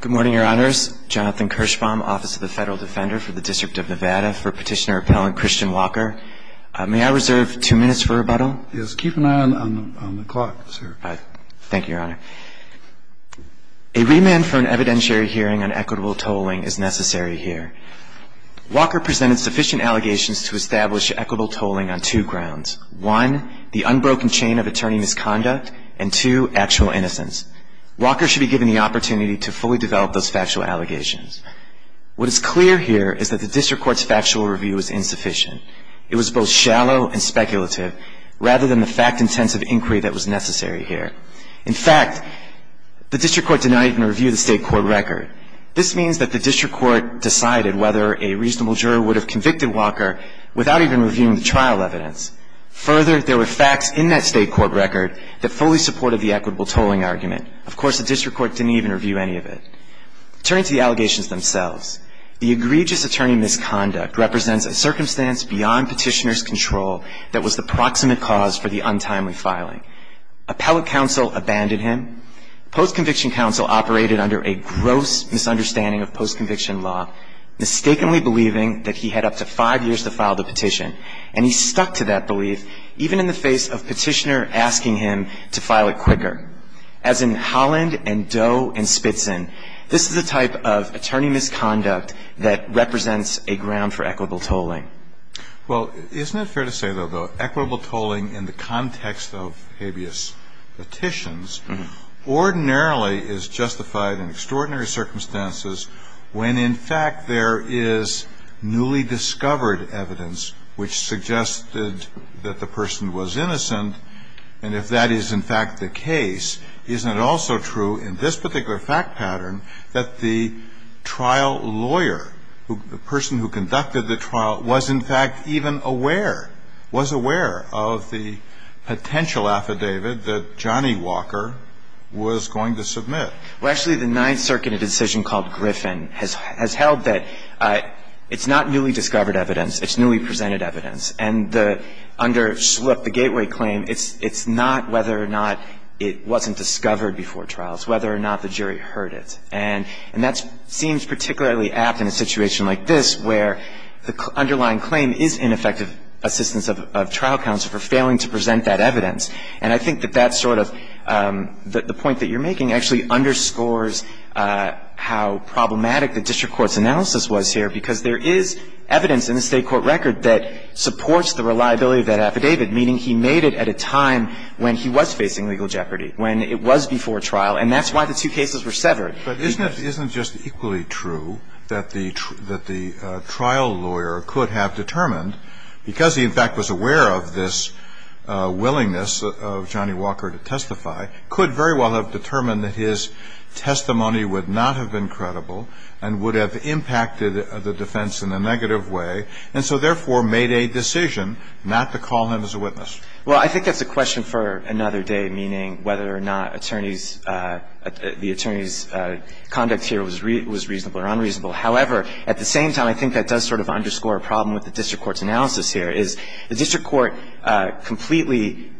Good morning, your honors. Jonathan Kirschbaum, Office of the Federal Defender for the District of Nevada, for Petitioner-Appellant Christian Walker. May I reserve two minutes for rebuttal? Yes, keep an eye on the clock, sir. Thank you, your honor. A remand for an evidentiary hearing on equitable tolling is necessary here. Walker presented sufficient allegations to establish equitable tolling on two grounds. One, the unbroken chain of attorney misconduct, and two, actual innocence. Walker should be given the opportunity to fully develop those factual allegations. What is clear here is that the district court's factual review was insufficient. It was both shallow and speculative, rather than the fact-intensive inquiry that was necessary here. In fact, the district court denied it in review of the state court record. This means that the district court decided whether a reasonable juror would have convicted Walker without even reviewing the trial evidence. Further, there were facts in that state court record that fully supported the equitable tolling argument. Of course, the district court didn't even review any of it. Turning to the allegations themselves, the egregious attorney misconduct represents a circumstance beyond petitioner's control that was the proximate cause for the untimely filing. Appellate counsel abandoned him. Post-conviction counsel operated under a gross misunderstanding of post-conviction law, mistakenly believing that he had up to five years to file the petition. And he stuck to that belief, even in the face of petitioner asking him to file it quicker. As in Holland and Doe and Spitzen, this is a type of attorney misconduct that represents a ground for equitable tolling. Well, isn't it fair to say, though, though, equitable tolling in the context of habeas petitions ordinarily is justified in extraordinary circumstances when, in fact, there is newly discovered evidence which suggested that the person was innocent? And if that is, in fact, the case, isn't it also true in this particular fact pattern that the trial lawyer, the person who conducted the trial, was, in fact, even aware, was aware of the potential affidavit that Johnny Walker was going to submit? Well, actually, the Ninth Circuit, in a decision called Griffin, has held that it's not newly discovered evidence. It's newly presented evidence. And under, look, the Gateway claim, it's not whether or not it wasn't discovered before trials, whether or not the jury heard it. And that seems particularly apt in a situation like this, where the underlying claim is ineffective assistance of trial counsel for failing to present that evidence. And I think that that's sort of the point that you're making actually underscores how problematic the district court's analysis was here, because there is evidence in the State court record that supports the reliability of that affidavit, meaning he made it at a time when he was facing legal jeopardy, when it was before trial. And that's why the two cases were severed. But isn't it just equally true that the trial lawyer could have determined, because he, in fact, was aware of this willingness of Johnny Walker to testify, could very well have determined that his testimony would not have been credible and would have impacted the defense in a negative way, and so therefore made a decision not to call him as a witness? Well, I think that's a question for another day, meaning whether or not attorney's the attorney's conduct here was reasonable or unreasonable. However, at the same time, I think that does sort of underscore a problem with the district court's analysis here, is the district court completely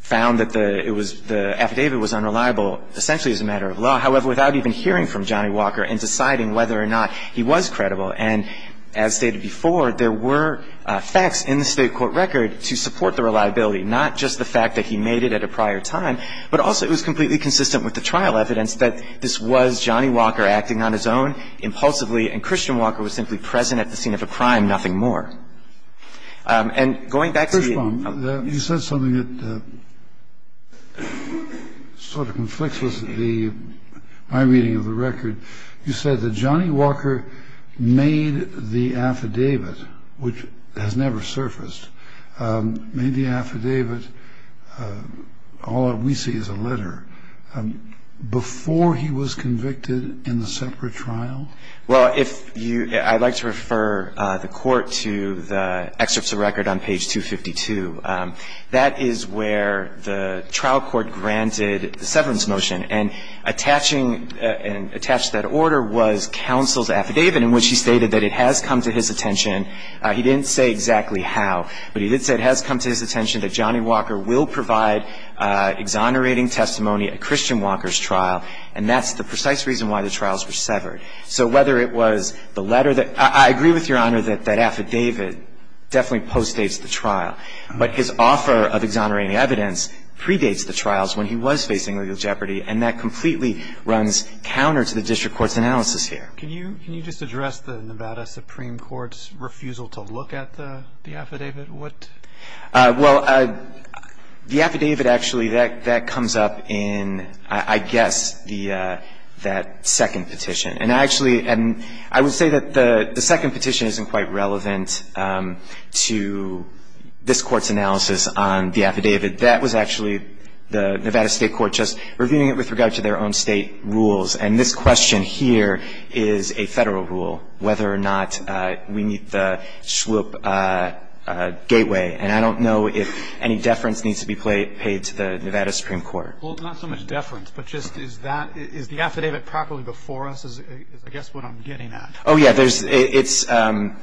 found that the affidavit was unreliable essentially as a matter of law, however, without even hearing from Johnny Walker and deciding whether or not he was credible. And as stated before, there were facts in the state court record to support the reliability, not just the fact that he made it at a prior time, but also it was completely consistent with the trial evidence that this was Johnny Walker acting on his own impulsively and Christian Walker was simply present at the scene of a crime, nothing more. And going back to the ---- First of all, you said something that sort of conflicts with the my reading of the case. You said that Johnny Walker made the affidavit, which has never surfaced, made the affidavit, all that we see is a letter, before he was convicted in the separate trial? Well, if you ---- I'd like to refer the Court to the excerpts of record on page 252. That is where the trial court granted the severance motion. And attaching and attached to that order was counsel's affidavit in which he stated that it has come to his attention. He didn't say exactly how, but he did say it has come to his attention that Johnny Walker will provide exonerating testimony at Christian Walker's trial, and that's the precise reason why the trials were severed. So whether it was the letter that ---- I agree with Your Honor that that affidavit definitely postdates the trial, but his offer of exonerating evidence predates the trials when he was facing legal jeopardy, and that completely runs counter to the district court's analysis here. Can you just address the Nevada Supreme Court's refusal to look at the affidavit? What ---- Well, the affidavit actually, that comes up in, I guess, that second petition. And I actually ---- and I would say that the second petition isn't quite relevant to this Court's analysis on the affidavit. That was actually the Nevada State Court just reviewing it with regard to their own State rules, and this question here is a Federal rule, whether or not we meet the SWOOP gateway. And I don't know if any deference needs to be paid to the Nevada Supreme Court. Well, not so much deference, but just is that ---- is the affidavit properly before us is, I guess, what I'm getting at. Oh, yeah. There's ---- it's ----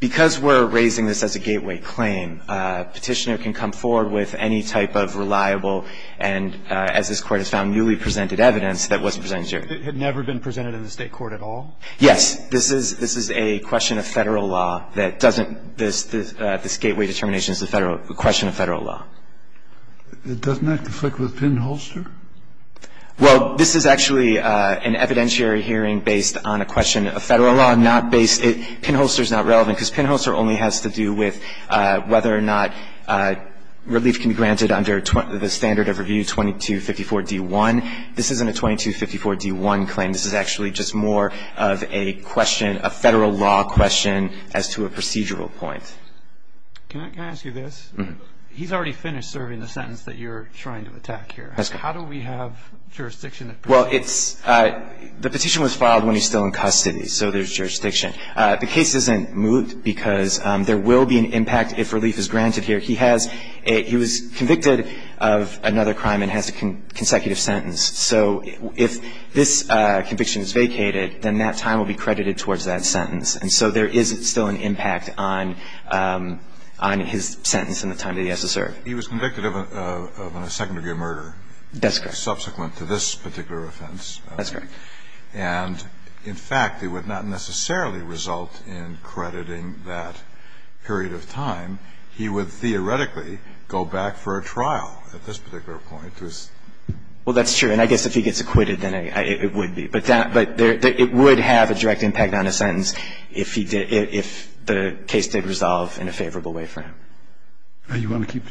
because we're raising this as a gateway claim, a petitioner can come forward with any type of reliable and, as this Court has found, newly presented evidence that was presented here. It had never been presented in the State court at all? Yes. This is a question of Federal law that doesn't ---- this gateway determination is a question of Federal law. Doesn't that conflict with Pinholster? Well, this is actually an evidentiary hearing based on a question of Federal law, not based ---- Pinholster is not relevant, because Pinholster only has to do with whether or not relief can be granted under the standard of review 2254-D1. This isn't a 2254-D1 claim. This is actually just more of a question, a Federal law question as to a procedural point. Can I ask you this? He's already finished serving the sentence that you're trying to attack here. How do we have jurisdiction? Well, it's ---- the petition was filed when he's still in custody, so there's jurisdiction. The case isn't moot because there will be an impact if relief is granted here. He has a ---- he was convicted of another crime and has a consecutive sentence. So if this conviction is vacated, then that time will be credited towards that sentence. And so there is still an impact on his sentence and the time that he has to serve. He was convicted of a second-degree murder. That's correct. Subsequent to this particular offense. That's correct. And in fact, it would not necessarily result in crediting that period of time. He would theoretically go back for a trial at this particular point. Well, that's true. And I guess if he gets acquitted, then it would be. But that ---- but it would have a direct impact on his sentence if he did ---- if the case did resolve in a favorable way for him. Thank you, Your Honor. Good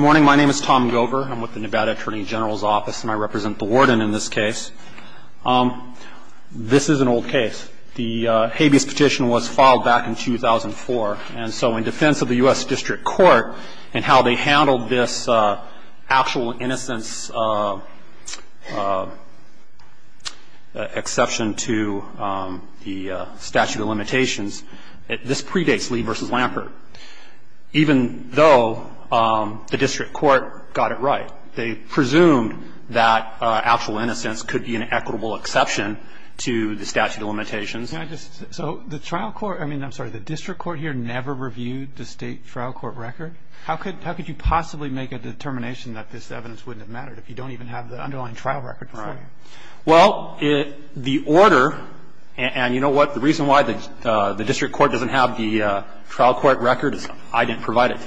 morning. My name is Tom Gover. I'm with the Nevada Attorney General's Office, and I represent the warden in this case. This is an old case. The habeas petition was filed back in 2004. And so in defense of the U.S. District Court and how they handled this actual innocence exception to the statute of limitations, this predates Lee v. Lampert, even though the district court got it right. They presumed that actual innocence could be an equitable exception to the statute of limitations. Can I just ---- so the trial court ---- I mean, I'm sorry, the district court here never reviewed the State trial court record? How could you possibly make a determination that this evidence wouldn't have mattered if you don't even have the underlying trial record? Right. Well, the order ---- and you know what? The reason why the district court doesn't have the trial court record is I didn't provide it to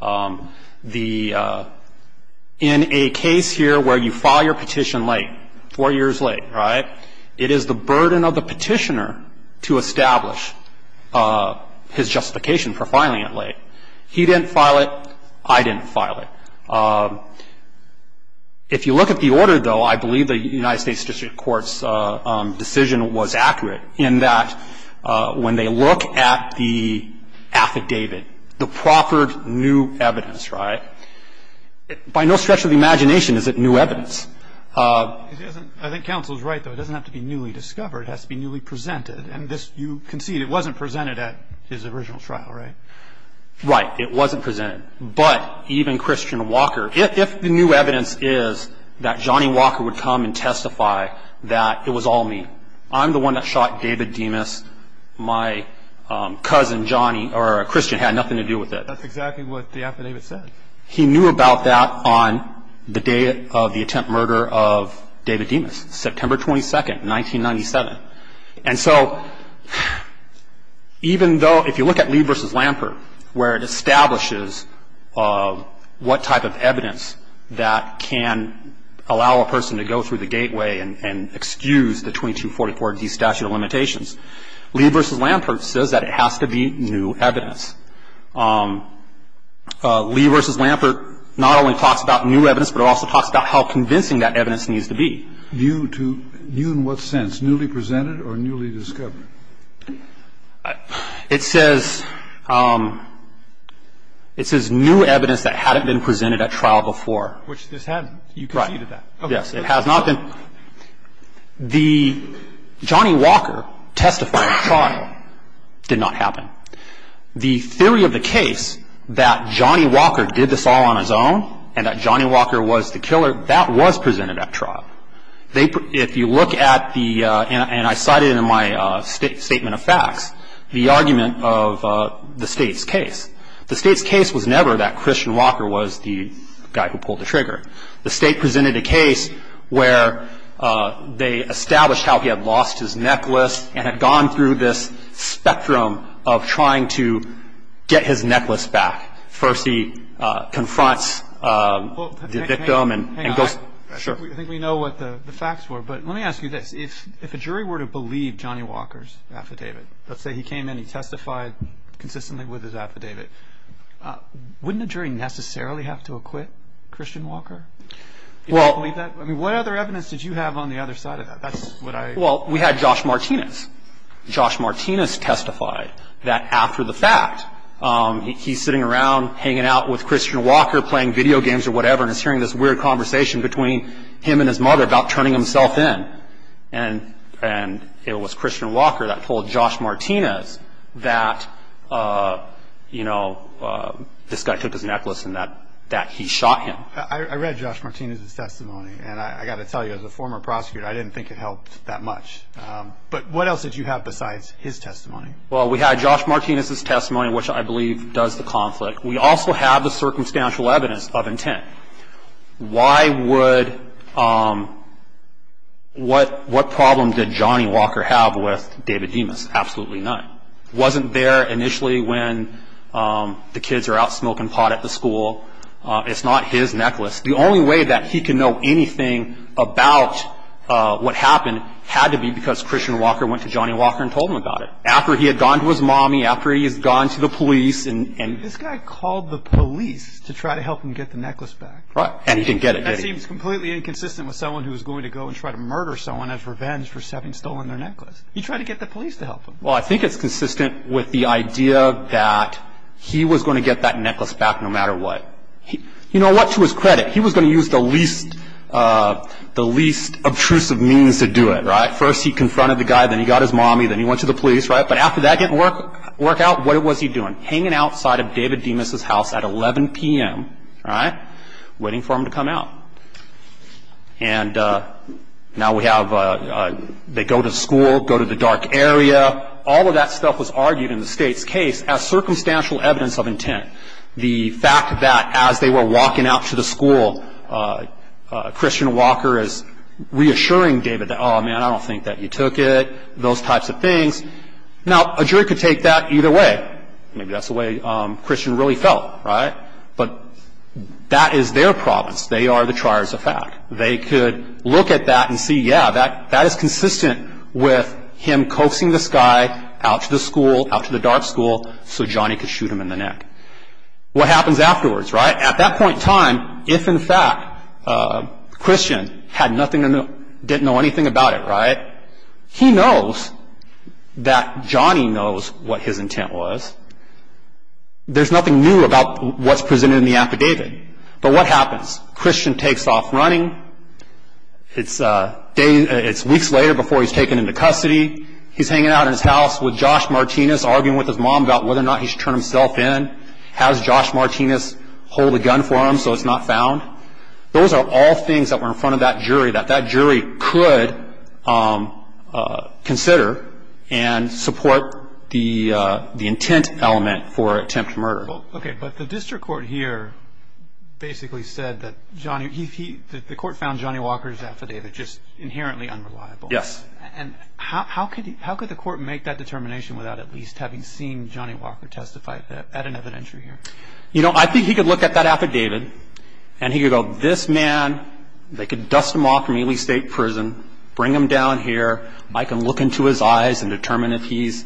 them. The ---- in a case here where you file your petition late, four years late, right, it is the burden of the petitioner to establish his justification for filing it late. He didn't file it. I didn't file it. If you look at the order, though, I believe the United States district court's decision was accurate in that when they look at the affidavit, the proffered new evidence, right, by no stretch of the imagination is it new evidence. It isn't. I think counsel is right, though. It doesn't have to be newly discovered. It has to be newly presented. And this, you concede, it wasn't presented at his original trial, right? Right. It wasn't presented. But even Christian Walker, if the new evidence is that Johnny Walker would come and testify that it was all me, I'm the one that shot David Demas, my cousin Johnny or Christian had nothing to do with it. That's exactly what the affidavit said. He knew about that on the day of the attempt murder of David Demas, September 22, 1997. And so even though if you look at Lee v. Lampert, where it establishes what type of evidence that can allow a person to go through the gateway and excuse the 2244D statute of limitations, Lee v. Lampert says that it has to be new evidence. Lee v. Lampert not only talks about new evidence, but it also talks about how convincing that evidence needs to be. So it's a new view to you in what sense, newly presented or newly discovered? It says new evidence that hadn't been presented at trial before. Which this hadn't. You conceded that. Yes. It has not been. The Johnny Walker testifying trial did not happen. The theory of the case that Johnny Walker did this all on his own and that Johnny Walker was the one that pulled the trigger is not true. If you look at the, and I cited in my statement of facts, the argument of the State's case. The State's case was never that Christian Walker was the guy who pulled the trigger. The State presented a case where they established how he had lost his necklace and had gone through this spectrum of trying to get his necklace back. First he confronts the victim and goes, sure. I think we know what the facts were, but let me ask you this. If a jury were to believe Johnny Walker's affidavit, let's say he came in, he testified consistently with his affidavit, wouldn't a jury necessarily have to acquit Christian Walker? What other evidence did you have on the other side of that? Well, we had Josh Martinez. Josh Martinez testified that after the fact, he's sitting around hanging out with Christian Walker, playing video games or whatever, and is hearing this weird conversation between him and his mother about turning himself in. And it was Christian Walker that told Josh Martinez that, you know, this guy took his necklace and that he shot him. I read Josh Martinez's testimony, and I got to tell you, as a former prosecutor, I didn't think it helped that much. But what else did you have besides his testimony? Well, we had Josh Martinez's testimony, which I believe does the conflict. We also have the circumstantial evidence of intent. Why would – what problem did Johnny Walker have with David Demas? Absolutely none. Wasn't there initially when the kids are out smoking pot at the school. It's not his necklace. The only way that he can know anything about what happened had to be because Christian Walker went to Johnny Walker and told him about it. After he had gone to his mommy, after he has gone to the police. This guy called the police to try to help him get the necklace back. And he didn't get it, did he? That seems completely inconsistent with someone who is going to go and try to murder someone as revenge for having stolen their necklace. He tried to get the police to help him. Well, I think it's consistent with the idea that he was going to get that necklace back no matter what. You know what? To his credit, he was going to use the least – the least obtrusive means to do it, right? First, he confronted the guy. Then he got his mommy. Then he went to the police, right? But after that didn't work out, what was he doing? Hanging outside of David Demas's house at 11 p.m., right, waiting for him to come out. And now we have – they go to school, go to the dark area. All of that stuff was argued in the state's case as circumstantial evidence of intent. The fact that as they were walking out to the school, Christian Walker is reassuring David, oh, man, I don't think that you took it, those types of things. Now, a jury could take that either way. Maybe that's the way Christian really felt, right? But that is their province. They are the triers of fact. They could look at that and see, yeah, that is consistent with him coaxing this guy out to the school, so Johnny could shoot him in the neck. What happens afterwards, right? At that point in time, if in fact Christian had nothing – didn't know anything about it, right, he knows that Johnny knows what his intent was. There's nothing new about what's presented in the affidavit. But what happens? Christian takes off running. It's weeks later before he's taken into custody. He's hanging out in his house with Josh Martinez, arguing with his mom about whether or not he should turn himself in. Has Josh Martinez hold a gun for him so it's not found? Those are all things that were in front of that jury that that jury could consider and support the intent element for attempted murder. Okay, but the district court here basically said that Johnny – the court found Johnny Walker's affidavit just inherently unreliable. Yes. And how could the court make that determination without at least having seen Johnny Walker testified at an evidentiary hearing? You know, I think he could look at that affidavit and he could go, this man, they could dust him off from Ely State Prison, bring him down here. I can look into his eyes and determine if he's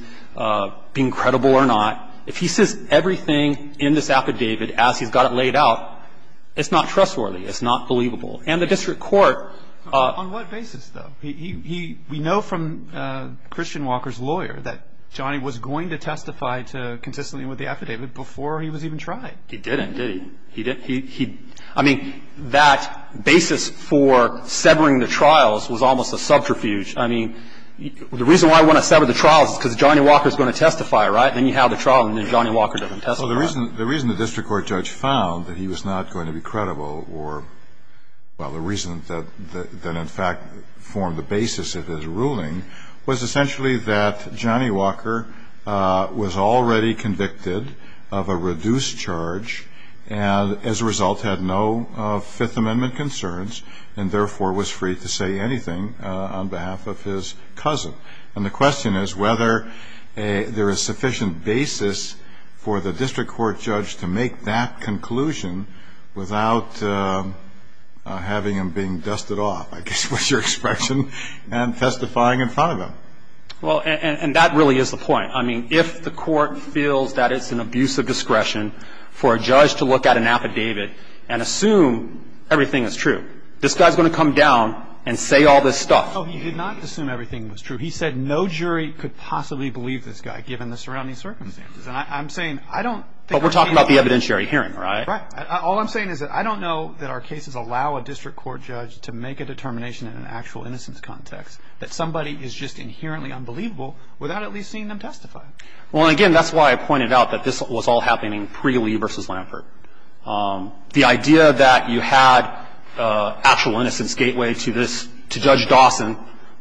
being credible or not. If he says everything in this affidavit as he's got it laid out, it's not trustworthy. It's not believable. And the district court – On what basis, though? We know from Christian Walker's lawyer that Johnny was going to testify consistently with the affidavit before he was even tried. He didn't, did he? I mean, that basis for severing the trials was almost a subterfuge. I mean, the reason why we want to sever the trials is because Johnny Walker is going to testify, right? Then you have the trial and then Johnny Walker doesn't testify. Well, the reason the district court judge found that he was not going to be credible or – on the basis of his ruling – was essentially that Johnny Walker was already convicted of a reduced charge and as a result had no Fifth Amendment concerns and therefore was free to say anything on behalf of his cousin. And the question is whether there is sufficient basis for the district court judge to make that conclusion without having him being dusted off. I guess, what's your expression? And testifying in front of him. Well, and that really is the point. I mean, if the court feels that it's an abuse of discretion for a judge to look at an affidavit and assume everything is true, this guy is going to come down and say all this stuff. No, he did not assume everything was true. He said no jury could possibly believe this guy given the surrounding circumstances. And I'm saying I don't think – But we're talking about the evidentiary hearing, right? Right. All I'm saying is that I don't know that our cases allow a district court judge to make a determination in an actual innocence context that somebody is just inherently unbelievable without at least seeing them testify. Well, again, that's why I pointed out that this was all happening pre Lee v. Lampert. The idea that you had actual innocence gateway to this – to Judge Dawson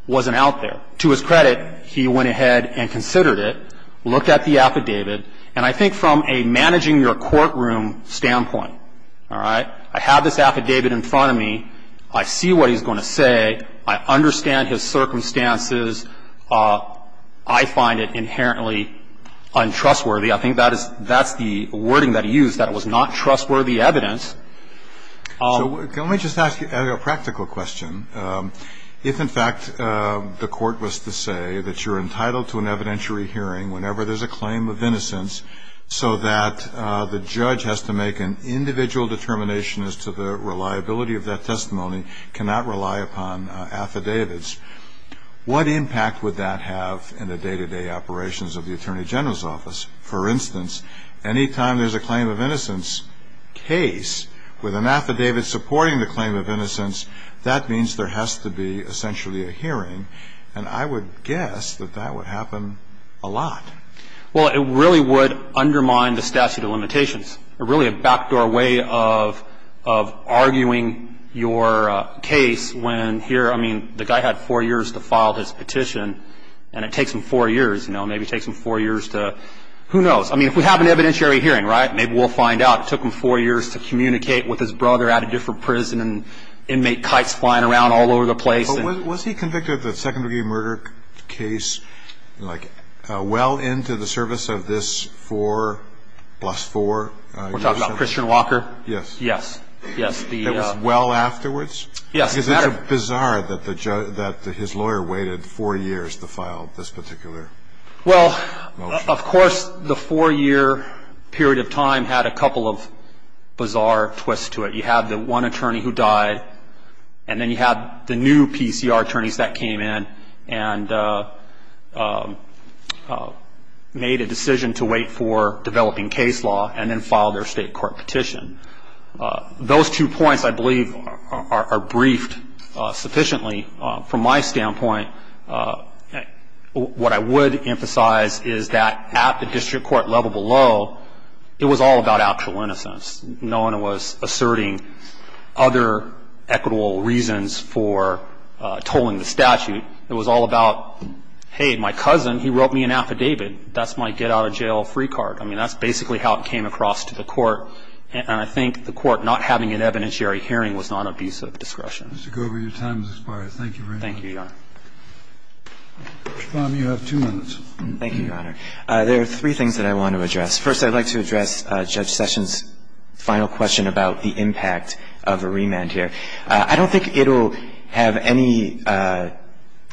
wasn't out there. To his credit, he went ahead and considered it, looked at the affidavit, and I think from a managing your courtroom standpoint, all right, I have this affidavit in front of me. I see what he's going to say. I understand his circumstances. I find it inherently untrustworthy. I think that is – that's the wording that he used, that it was not trustworthy evidence. So let me just ask you a practical question. If, in fact, the court was to say that you're entitled to an evidentiary hearing whenever there's a claim of innocence so that the judge has to make an individual determination as to the reliability of that testimony, cannot rely upon affidavits, what impact would that have in the day-to-day operations of the Attorney General's office? For instance, any time there's a claim of innocence case with an affidavit supporting the claim of innocence, that means there has to be essentially a hearing, and I would guess that that would happen a lot. Well, it really would undermine the statute of limitations. It's really a backdoor way of arguing your case when here – I mean, the guy had four years to file his petition, and it takes him four years. You know, maybe it takes him four years to – who knows? I mean, if we have an evidentiary hearing, right, maybe we'll find out. It took him four years to communicate with his brother at a different prison and inmate kites flying around all over the place. But was he convicted of a second-degree murder case, like, well into the service of this 4 plus 4? We're talking about Christian Walker? Yes. Yes. It was well afterwards? Yes. Is it bizarre that his lawyer waited four years to file this particular motion? Well, of course the four-year period of time had a couple of bizarre twists to it. You have the one attorney who died, and then you have the new PCR attorneys that came in and made a decision to wait for developing case law and then filed their state court petition. Those two points, I believe, are briefed sufficiently. From my standpoint, what I would emphasize is that at the district court level below, it was all about actual innocence. No one was asserting other equitable reasons for tolling the statute. It was all about, hey, my cousin, he wrote me an affidavit. That's my get-out-of-jail-free card. I mean, that's basically how it came across to the court. And I think the court not having an evidentiary hearing was not an abuse of discretion. Mr. Gover, your time has expired. Thank you very much. Thank you, Your Honor. Mr. Baum, you have two minutes. Thank you, Your Honor. There are three things that I want to address. First, I'd like to address Judge Sessions' final question about the impact of a remand here. I don't think it will have any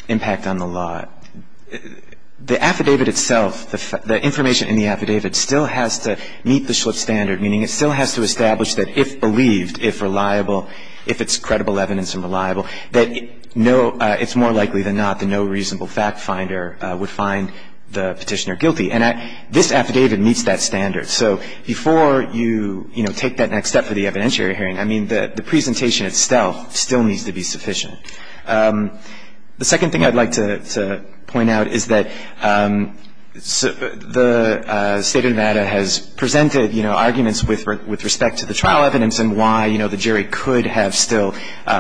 impact on the law. The affidavit itself, the information in the affidavit still has to meet the Schlipp standard, meaning it still has to establish that if believed, if reliable, if it's credible evidence and reliable, that it's more likely than not that no reasonable fact finder would find the petitioner guilty. And this affidavit meets that standard. So before you, you know, take that next step for the evidentiary hearing, I mean, the presentation itself still needs to be sufficient. The second thing I'd like to point out is that the State of Nevada has presented, you know, arguments with respect to the trial evidence and why, you know, the jury could have still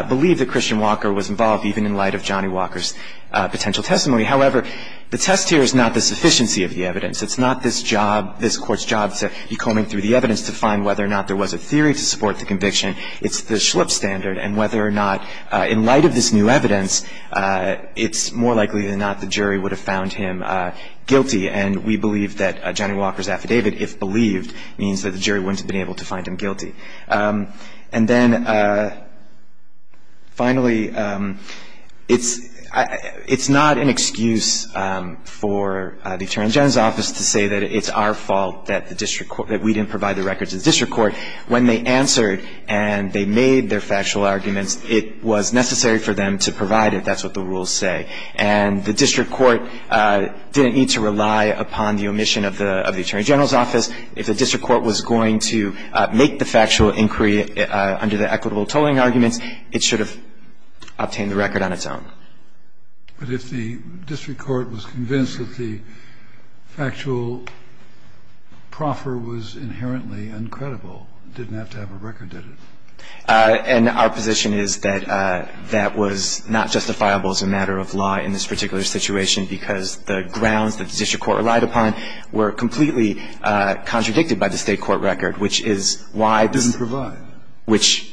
believed that Christian Walker was involved, even in light of Johnny Walker's potential testimony. However, the test here is not the sufficiency of the evidence. It's not this job, this Court's job to be combing through the evidence to find whether or not there was a theory to support the conviction. It's the Schlipp standard, and whether or not in light of this new evidence, it's more likely than not the jury would have found him guilty. And we believe that Johnny Walker's affidavit, if believed, And then finally, it's not an excuse for the Attorney General's office to say that it's our fault that we didn't provide the records to the district court. When they answered and they made their factual arguments, it was necessary for them to provide it. That's what the rules say. And the district court didn't need to rely upon the omission of the Attorney General's office. If the district court was going to make the factual inquiry under the equitable tolling arguments, it should have obtained the record on its own. But if the district court was convinced that the factual proffer was inherently uncredible, it didn't have to have a record, did it? And our position is that that was not justifiable as a matter of law in this particular situation because the grounds that the district court relied upon were completely contradicted by the State court record, which is why this Didn't provide. Which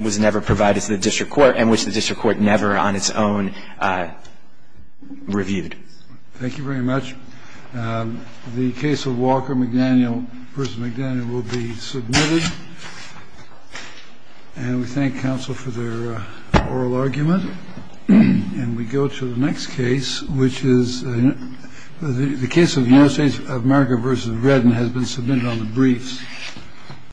was never provided to the district court and which the district court never on its own reviewed. Thank you very much. The case of Walker, McDaniel v. McDaniel will be submitted. And we thank counsel for their oral argument. And we go to the next case, which is the case of the United States of America versus Britain has been submitted on the briefs.